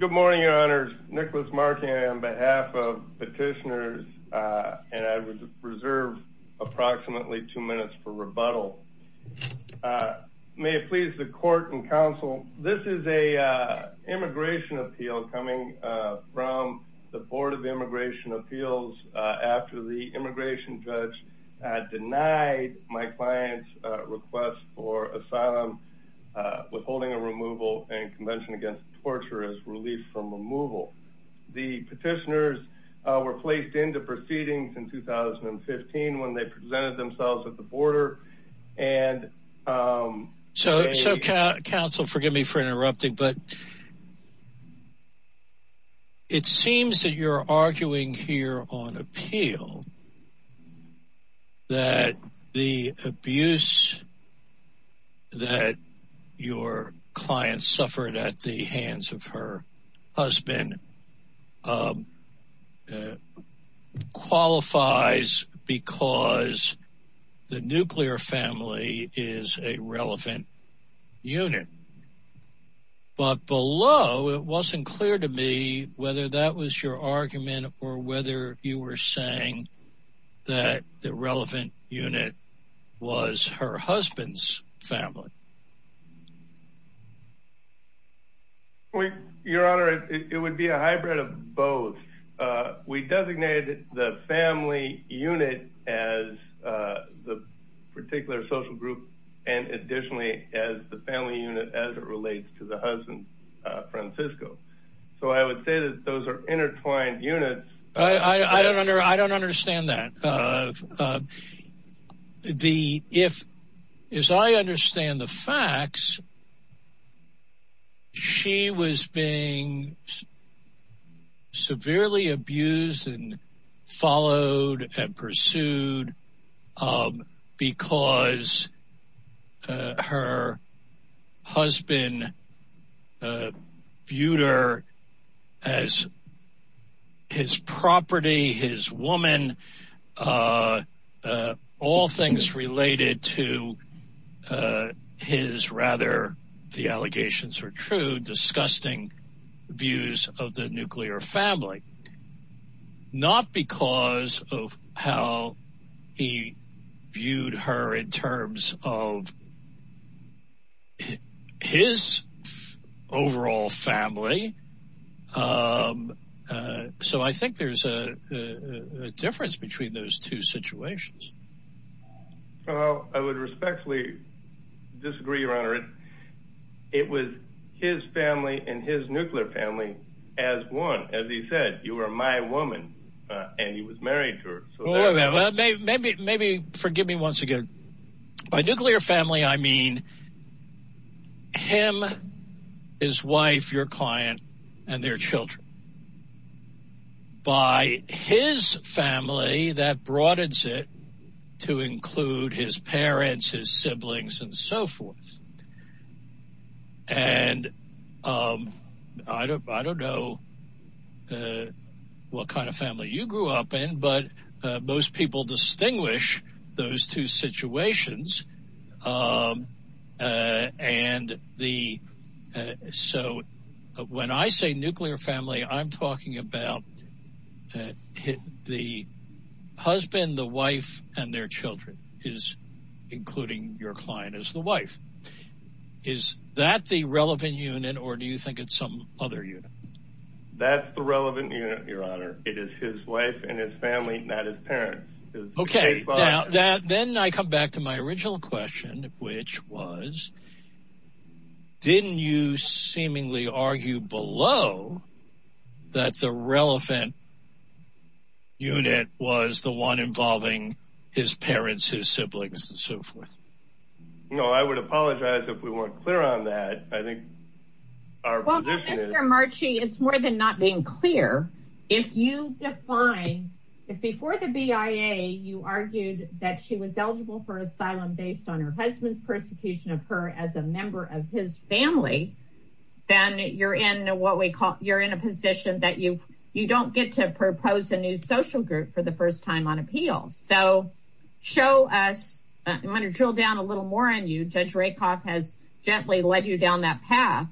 Good morning, your honors. Nicholas Markey on behalf of petitioners, and I reserve approximately two minutes for rebuttal. May it please the court and counsel, this is a immigration appeal coming from the Board of Immigration Appeals after the immigration judge had denied my client's request for asylum, withholding a removal and convention against torture as relief from removal. The petitioners were placed into proceedings in 2015 when they presented themselves at the border and... So counsel, forgive me for interrupting, but it seems that you're arguing here on appeal that the abuse that your client suffered at the hands of her husband qualifies because the nuclear family is a relevant unit. But below, it wasn't clear to me whether that was your argument or whether you were saying that the relevant unit was her husband's family. Well, your honor, it would be a hybrid of both. We designated the family unit as the particular social group and additionally as the family unit as it relates to the husband, Francisco. So I would say that those are intertwined units. I don't understand that. As I understand the facts, she was being severely abused and followed and pursued because her husband viewed her as his property, his woman, all things related to his rather, the allegations are true, disgusting views of the nuclear family. Not because of how he viewed her in terms of his overall family. So I think there's a difference between those two situations. Well, I would respectfully disagree, your honor. It was his family and his nuclear family as one. As he said, you were my woman and he was married to her. Maybe forgive me once again. By nuclear family, I mean him, his wife, your client, and their children. By his family, that broadens it to include his parents, his siblings, and so forth. I don't know what kind of family you grew up in, but most people distinguish those two situations. So when I say nuclear family, I'm talking about the husband, the wife, and their children is including your client as the wife. Is that the relevant unit or do you think it's some other unit? That's the relevant unit, your honor. It is his wife and his family, not his parents. Okay, then I come back to my original question, which was, didn't you seemingly argue below that the relevant unit was the one involving his parents, his siblings, and so forth? No, I would apologize if we weren't clear on that. Well, Mr. Marchi, it's more than not being clear. If you define, if before the BIA, you argued that she was eligible for asylum based on her husband's persecution of her as a member of his family, then you're in what we call, you're in a position that you don't get to propose a new social group for the first time on appeal. So show us, I'm going to drill down a little more on you. Judge Rakoff has gently led you down that path,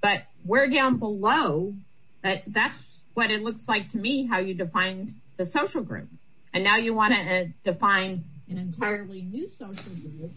but we're down below. That's what it looks like to me, how you defined the social group. And now you want to define an entirely new social group,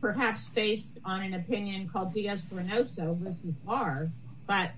perhaps based on an opinion called diasporanoso versus R, but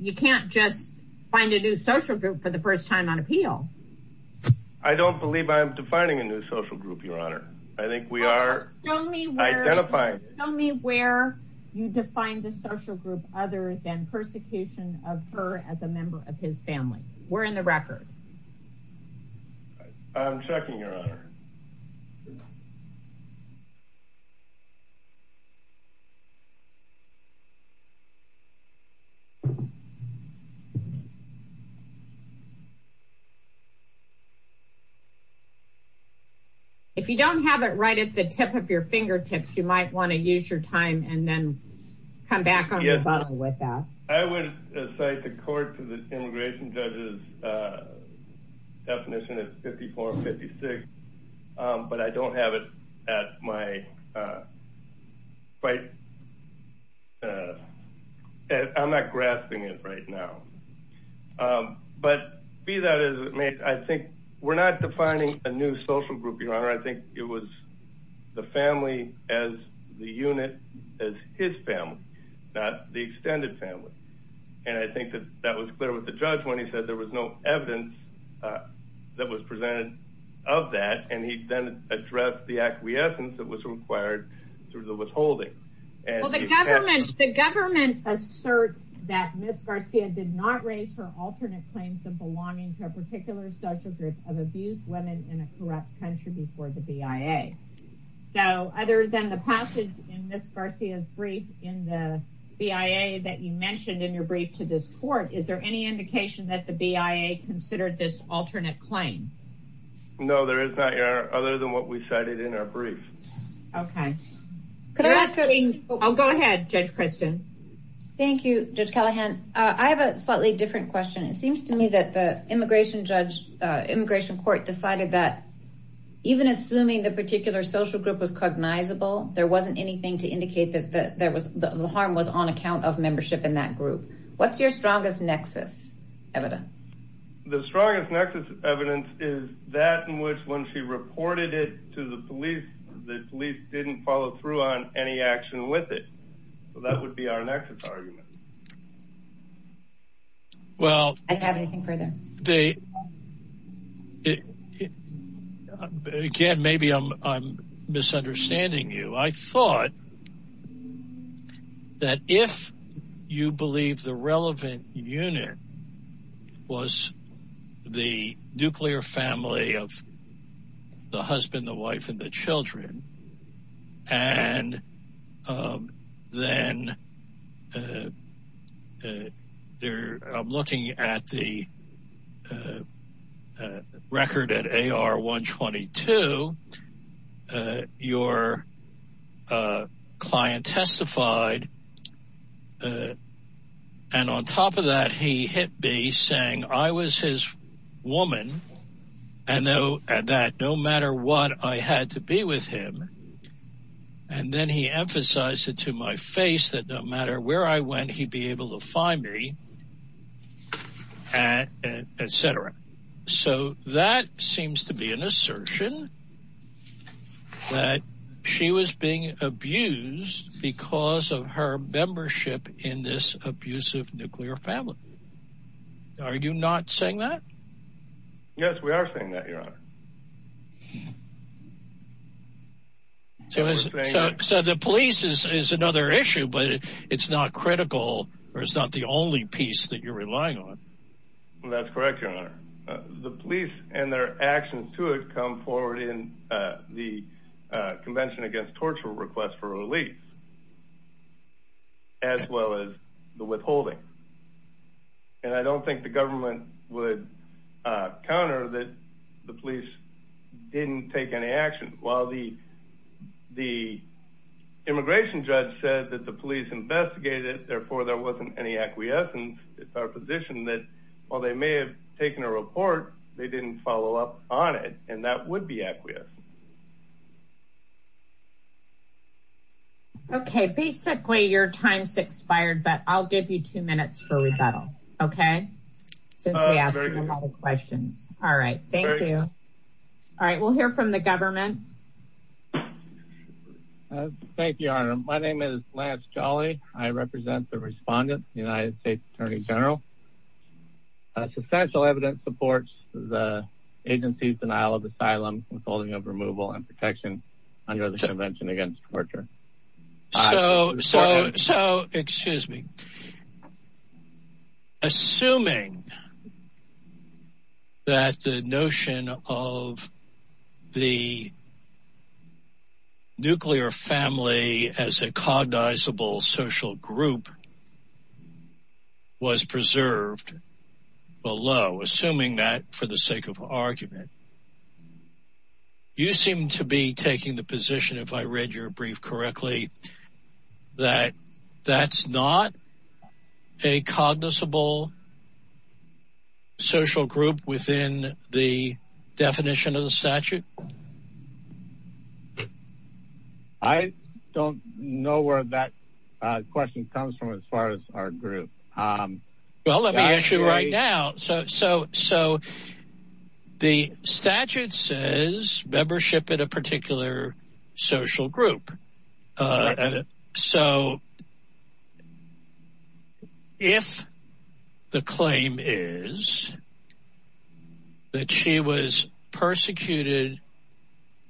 you can't just find a new social group for the first time on appeal. I don't believe I'm defining a new social group, your honor. I think we are identifying it. Show me where you define the social group other than persecution of her as a member of his family. We're in the record. I'm checking, your honor. If you don't have it right at the tip of your fingertips, you might want to use your time and come back on the buzzer with that. I would cite the court to the immigration judges definition of 5456, but I don't have it at my... I'm not grasping it right now. But be that as it may, I think we're not defining a new social group, your honor. I think it was the family as the unit, as his family, not the extended family. And I think that that was clear with the judge when he said there was no evidence that was presented of that. And he then addressed the acquiescence that was required through the withholding. The government asserts that Ms. Garcia did not raise her alternate claims of belonging to a particular social group of abused women in a corrupt country before the BIA. So other than the passage in Ms. Garcia's brief in the BIA that you mentioned in your brief to this court, is there any indication that the BIA considered this alternate claim? No, there is not, your honor, other than what we cited in our brief. Okay. I'll go ahead, Judge Christian. Thank you, Judge Callahan. I have a slightly different question. It seems to me that the immigration judge, immigration court decided that even assuming the particular social group was cognizable, there wasn't anything to indicate that the harm was on account of membership in that group. What's your strongest nexus evidence? The strongest nexus evidence is that in which when she reported it to the police, the police didn't follow through on any action with it. So that would be our nexus argument. Well, I don't have anything further. Again, maybe I'm misunderstanding you. I thought that if you believe the relevant unit was the nuclear family of the husband, the wife, and the then they're looking at the record at AR-122, your client testified. And on top of that, he hit me saying I was his woman and that no matter what, I had to be with him. And then he emphasized it to my face that no matter where I went, he'd be able to find me, et cetera. So that seems to be an assertion that she was being abused because of her membership in this abusive nuclear family. Are you not saying that? Yes, we are saying that, Your Honor. So the police is another issue, but it's not critical or it's not the only piece that you're relying on. That's correct, Your Honor. The police and their actions to it come forward in the Convention Against Torture request for relief, as well as the withholding. And I don't think the government would counter that the police didn't take any action. While the immigration judge said that the police investigated it, therefore there wasn't any acquiescence, it's our position that while they may have taken a report, they didn't follow up on it. And that would be acquiescent. Okay, basically your time's expired, but I'll give you two minutes for rebuttal. Okay, since we asked a lot of questions. All right, thank you. All right, we'll hear from the government. Thank you, Your Honor. My name is Lance Jolly. I represent the respondent, United States Attorney General. Substantial evidence supports the agency's denial of asylum withholding of removal and protection under the Convention Against Torture. So, excuse me. Assuming that the notion of the nuclear family as a cognizable social group was preserved below, assuming that for the sake of argument, you seem to be taking the position, if I read your brief correctly, that that's not a cognizable social group within the definition of the statute? I don't know where that question comes from as far as our group. Well, let me ask you right now. So, the statute says membership in a particular social group. So, if the claim is that she was persecuted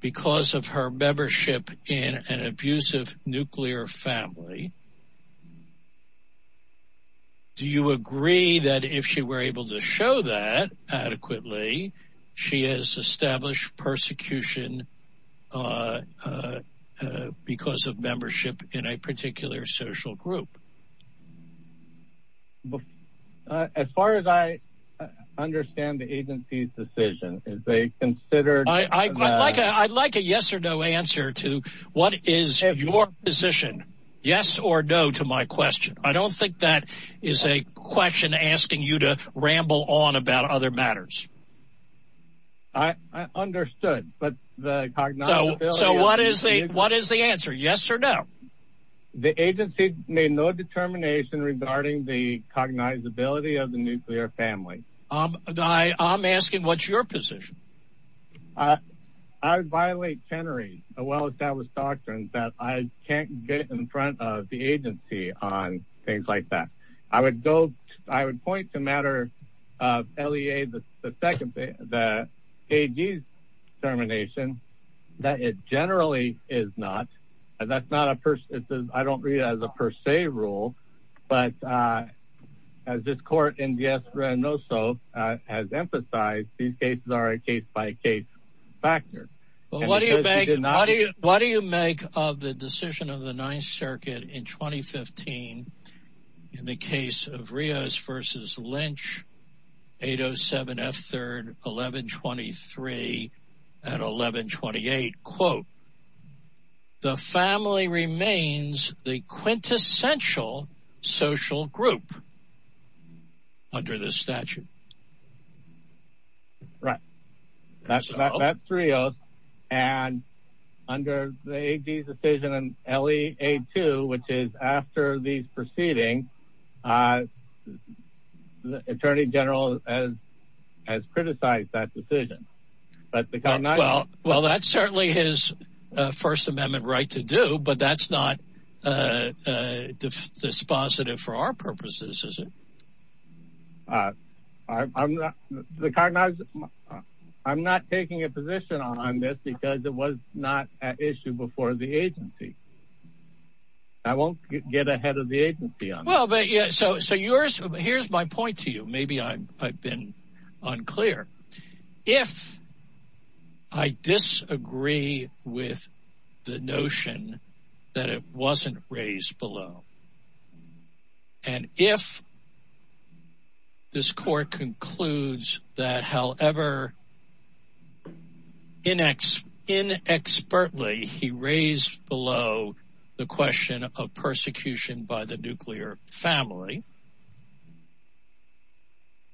because of her membership in an abusive nuclear family, do you agree that if she were able to show that adequately, she has established persecution because of membership in a particular social group? As far as I understand the agency's decision, is they considered... I'd like a yes or no answer to what is your position. Yes or no to my question. I don't think that is a question asking you to ramble on about other matters. I understood, but the cognizability... So, what is the answer? Yes or no? The agency made no determination regarding the cognizability of the nuclear family. I'm asking what's your position? I would violate Chenery's well-established doctrines that I can't get in front of the agency on things like that. I would go... I would point to a matter of LEA, the second thing, the AG's determination that it generally is not, and that's not a... I don't read it as a per se rule, but as this court in has emphasized, these cases are a case-by-case factor. Well, what do you make of the decision of the Ninth Circuit in 2015 in the case of Rios versus Lynch, 807 F. 3rd, 1123 at 1128, quote, the family remains the quintessential social group under this statute. Right. That's Rios, and under the AG's decision in LEA2, which is after these proceedings, the Attorney General has criticized that decision. Well, that's certainly his First Amendment right to do, but that's not dispositive for our purposes, is it? I'm not taking a position on this because it was not an issue before the agency. I won't get ahead of the agency on this. Well, but yeah, so here's my point to you. Maybe I've unclear. If I disagree with the notion that it wasn't raised below, and if this court concludes that, however, inexpertly he raised below the question of persecution by nuclear family,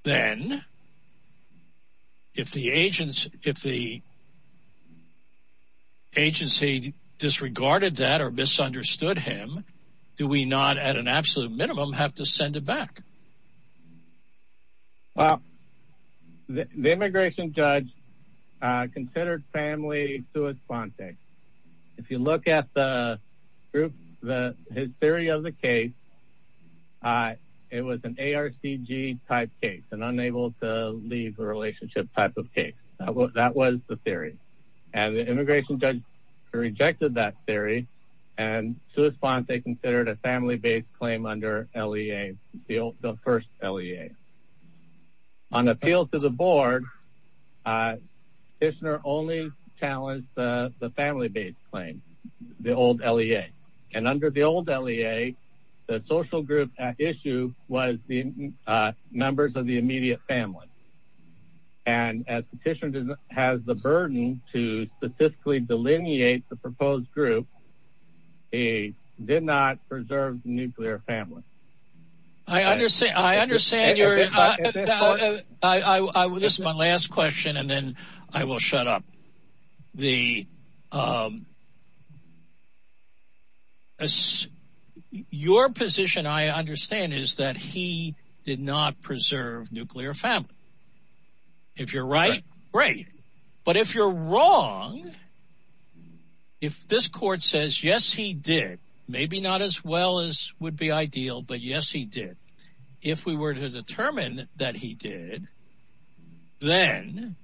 then if the agency disregarded that or misunderstood him, do we not at an absolute minimum have to send it back? Well, the immigration judge considered family to a context. If you look at the group, his theory of the case, it was an ARCG type case, an unable to leave a relationship type of case. That was the theory, and the immigration judge rejected that theory, and to respond, they considered a family-based claim under LEA, the first LEA. On appeal to the board, a petitioner only challenged the family-based claim, the old LEA, and under the old LEA, the social group at issue was the members of the immediate family, and as petitioner has the burden to statistically delineate the proposed group, he did not preserve nuclear family. I understand. This is my last question, and then I will shut up. Your position, I understand, is that he did not preserve nuclear family. If you're right, great, but if you're wrong, if this court says, yes, he did, maybe not as well as would be ideal, but yes, he did, if we were to determine that he did, then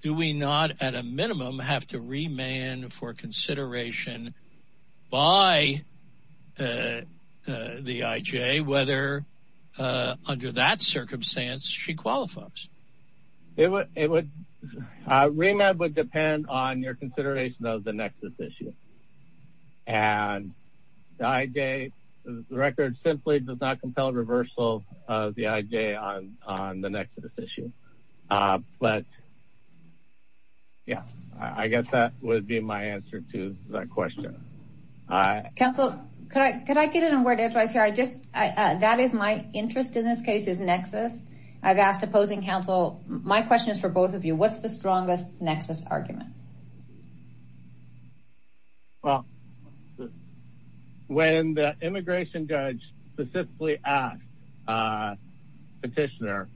do we not at a minimum have to remand for consideration by the IJ whether under that circumstance she qualifies? It would, remand would depend on your consideration of the nexus issue, and the IJ, the record simply does not compel reversal of the IJ on the nexus issue, but yeah, I guess that would be my answer to that question. Counsel, could I get a word of advice here? I just, that is my interest in this case is nexus. I've asked opposing counsel. My question is for both of you. What's the strongest nexus argument? Well, when the immigration judge specifically asked petitioner,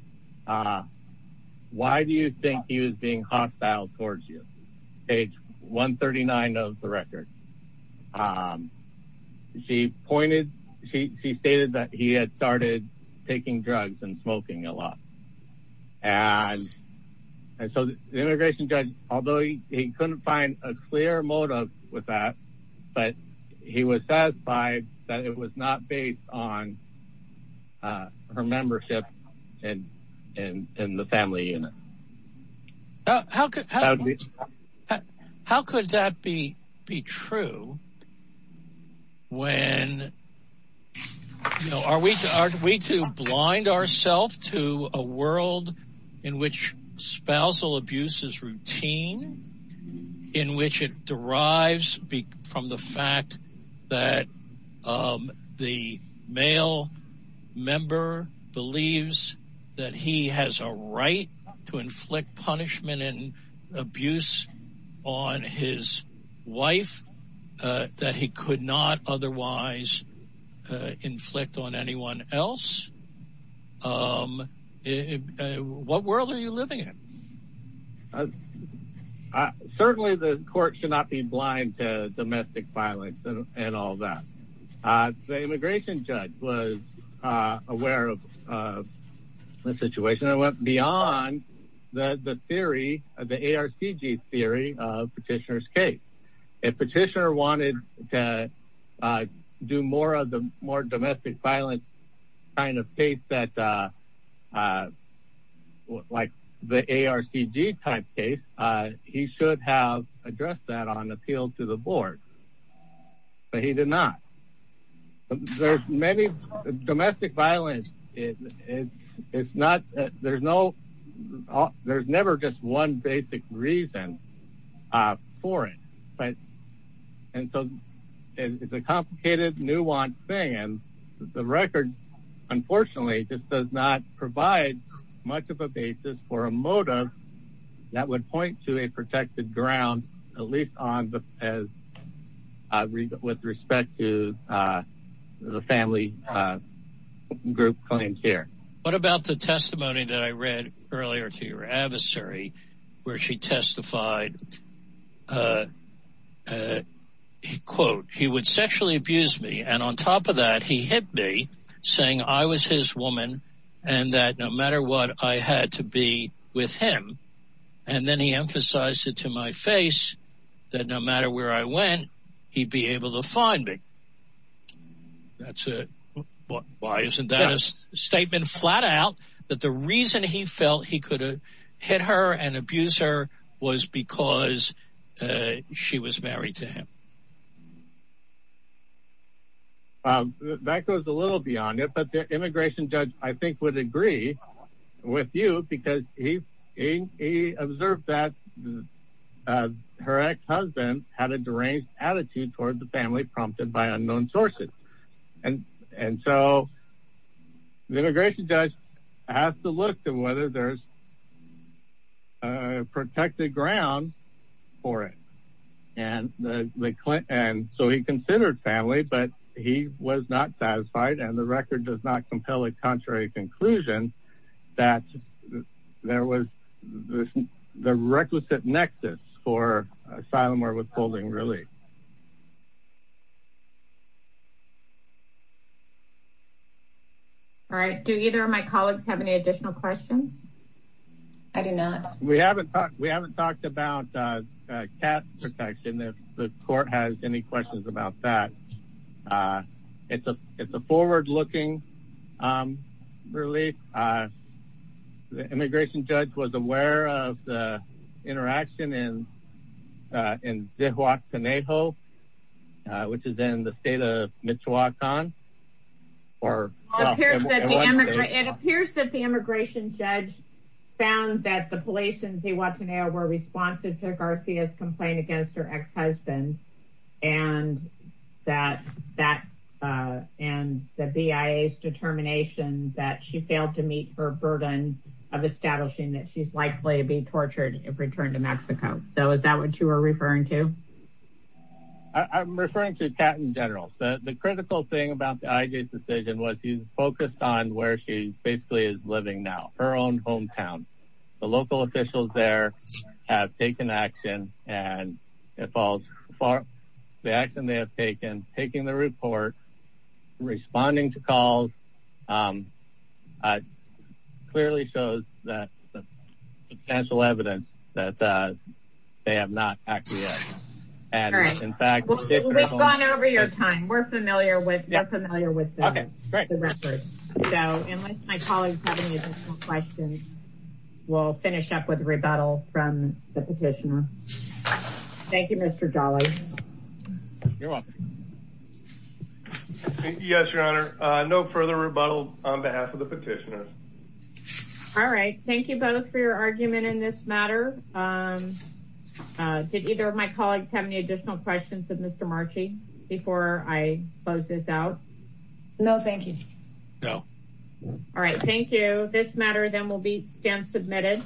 why do you think he was being hostile towards you? Page 139 of the record. She pointed, she stated that he had started taking drugs and smoking a lot, and so the immigration judge, although he couldn't find a clear motive with that, but he was satisfied that it was not based on her membership in the family unit. How could that be true when, you know, are we to blind ourselves to a world in which spousal abuse is routine, in which it derives from the fact that the male member believes that he has a right to inflict punishment and abuse on his wife that he could not otherwise inflict on anyone else? What world are you living in? Certainly the court should not be blind to domestic violence and all that. The immigration judge was aware of the situation and went beyond the theory, the ARCG theory of petitioner's case. If petitioner wanted to do more of the more domestic violence kind of case that, like the ARCG type case, he should have addressed that on appeal to the board, but he did not. There's many, domestic violence, it's not, there's no, there's never just one basic reason for it, right? And so it's a complicated, nuanced thing, and the record unfortunately just does not provide much of a basis for a motive that would point to a protected ground, at least on the, as with respect to the family group claims here. What about the testimony that I read earlier to your adversary, where she testified, quote, he would sexually abuse me, and on top of that he hit me, saying I was his woman, and that no matter what, I had to be with him, and then he emphasized it to my face, that no matter where I went, he'd be able to find me. That's a, why isn't that a statement flat out, that the reason he felt he could hit her and abuse her was because she was married to him? Well, that goes a little beyond it, but the immigration judge, I think, would agree with you, because he observed that her ex-husband had a deranged attitude toward the family, prompted by unknown sources, and so the immigration judge has to look to whether there's protected ground for it, and so he considered family, but he was not satisfied, and the record does not compel a contrary conclusion that there was the requisite nexus for asylum or withholding relief. All right, do either of my colleagues have any additional questions? I do not. We haven't talked, we haven't talked about caste protection, if the court has any questions about that. It's a, it's a forward-looking relief. The immigration judge was aware of the interaction in in Zihuatanejo, which is in the state of Michoacan. It appears that the immigration judge found that the police in Zihuatanejo were responsive to Garcia's complaint against her ex-husband, and that that, and the BIA's determination that she failed to meet her burden of establishing that she's likely to be tortured if returned to Mexico. So is that what you are referring to? I'm referring to Cat in general. The critical thing about the IJ's decision was he focused on where she basically is living now, her own hometown. The local officials there have taken action, and it falls far, the action they have taken, taking the report, responding to calls, clearly shows that substantial evidence that they have not acted yet. All right, we've gone over your time. We're familiar with, you're familiar with the record. So unless my colleagues have any additional questions, we'll finish up with rebuttal from the petitioner. Thank you, Mr. Dolley. You're welcome. Yes, your honor, no further rebuttal on behalf of the petitioner. All right, thank you both for your argument in this matter. Did either of my colleagues have any additional questions of Mr. Marchi before I close this out? No, thank you. No. All right, thank you. This matter then will be stamp submitted.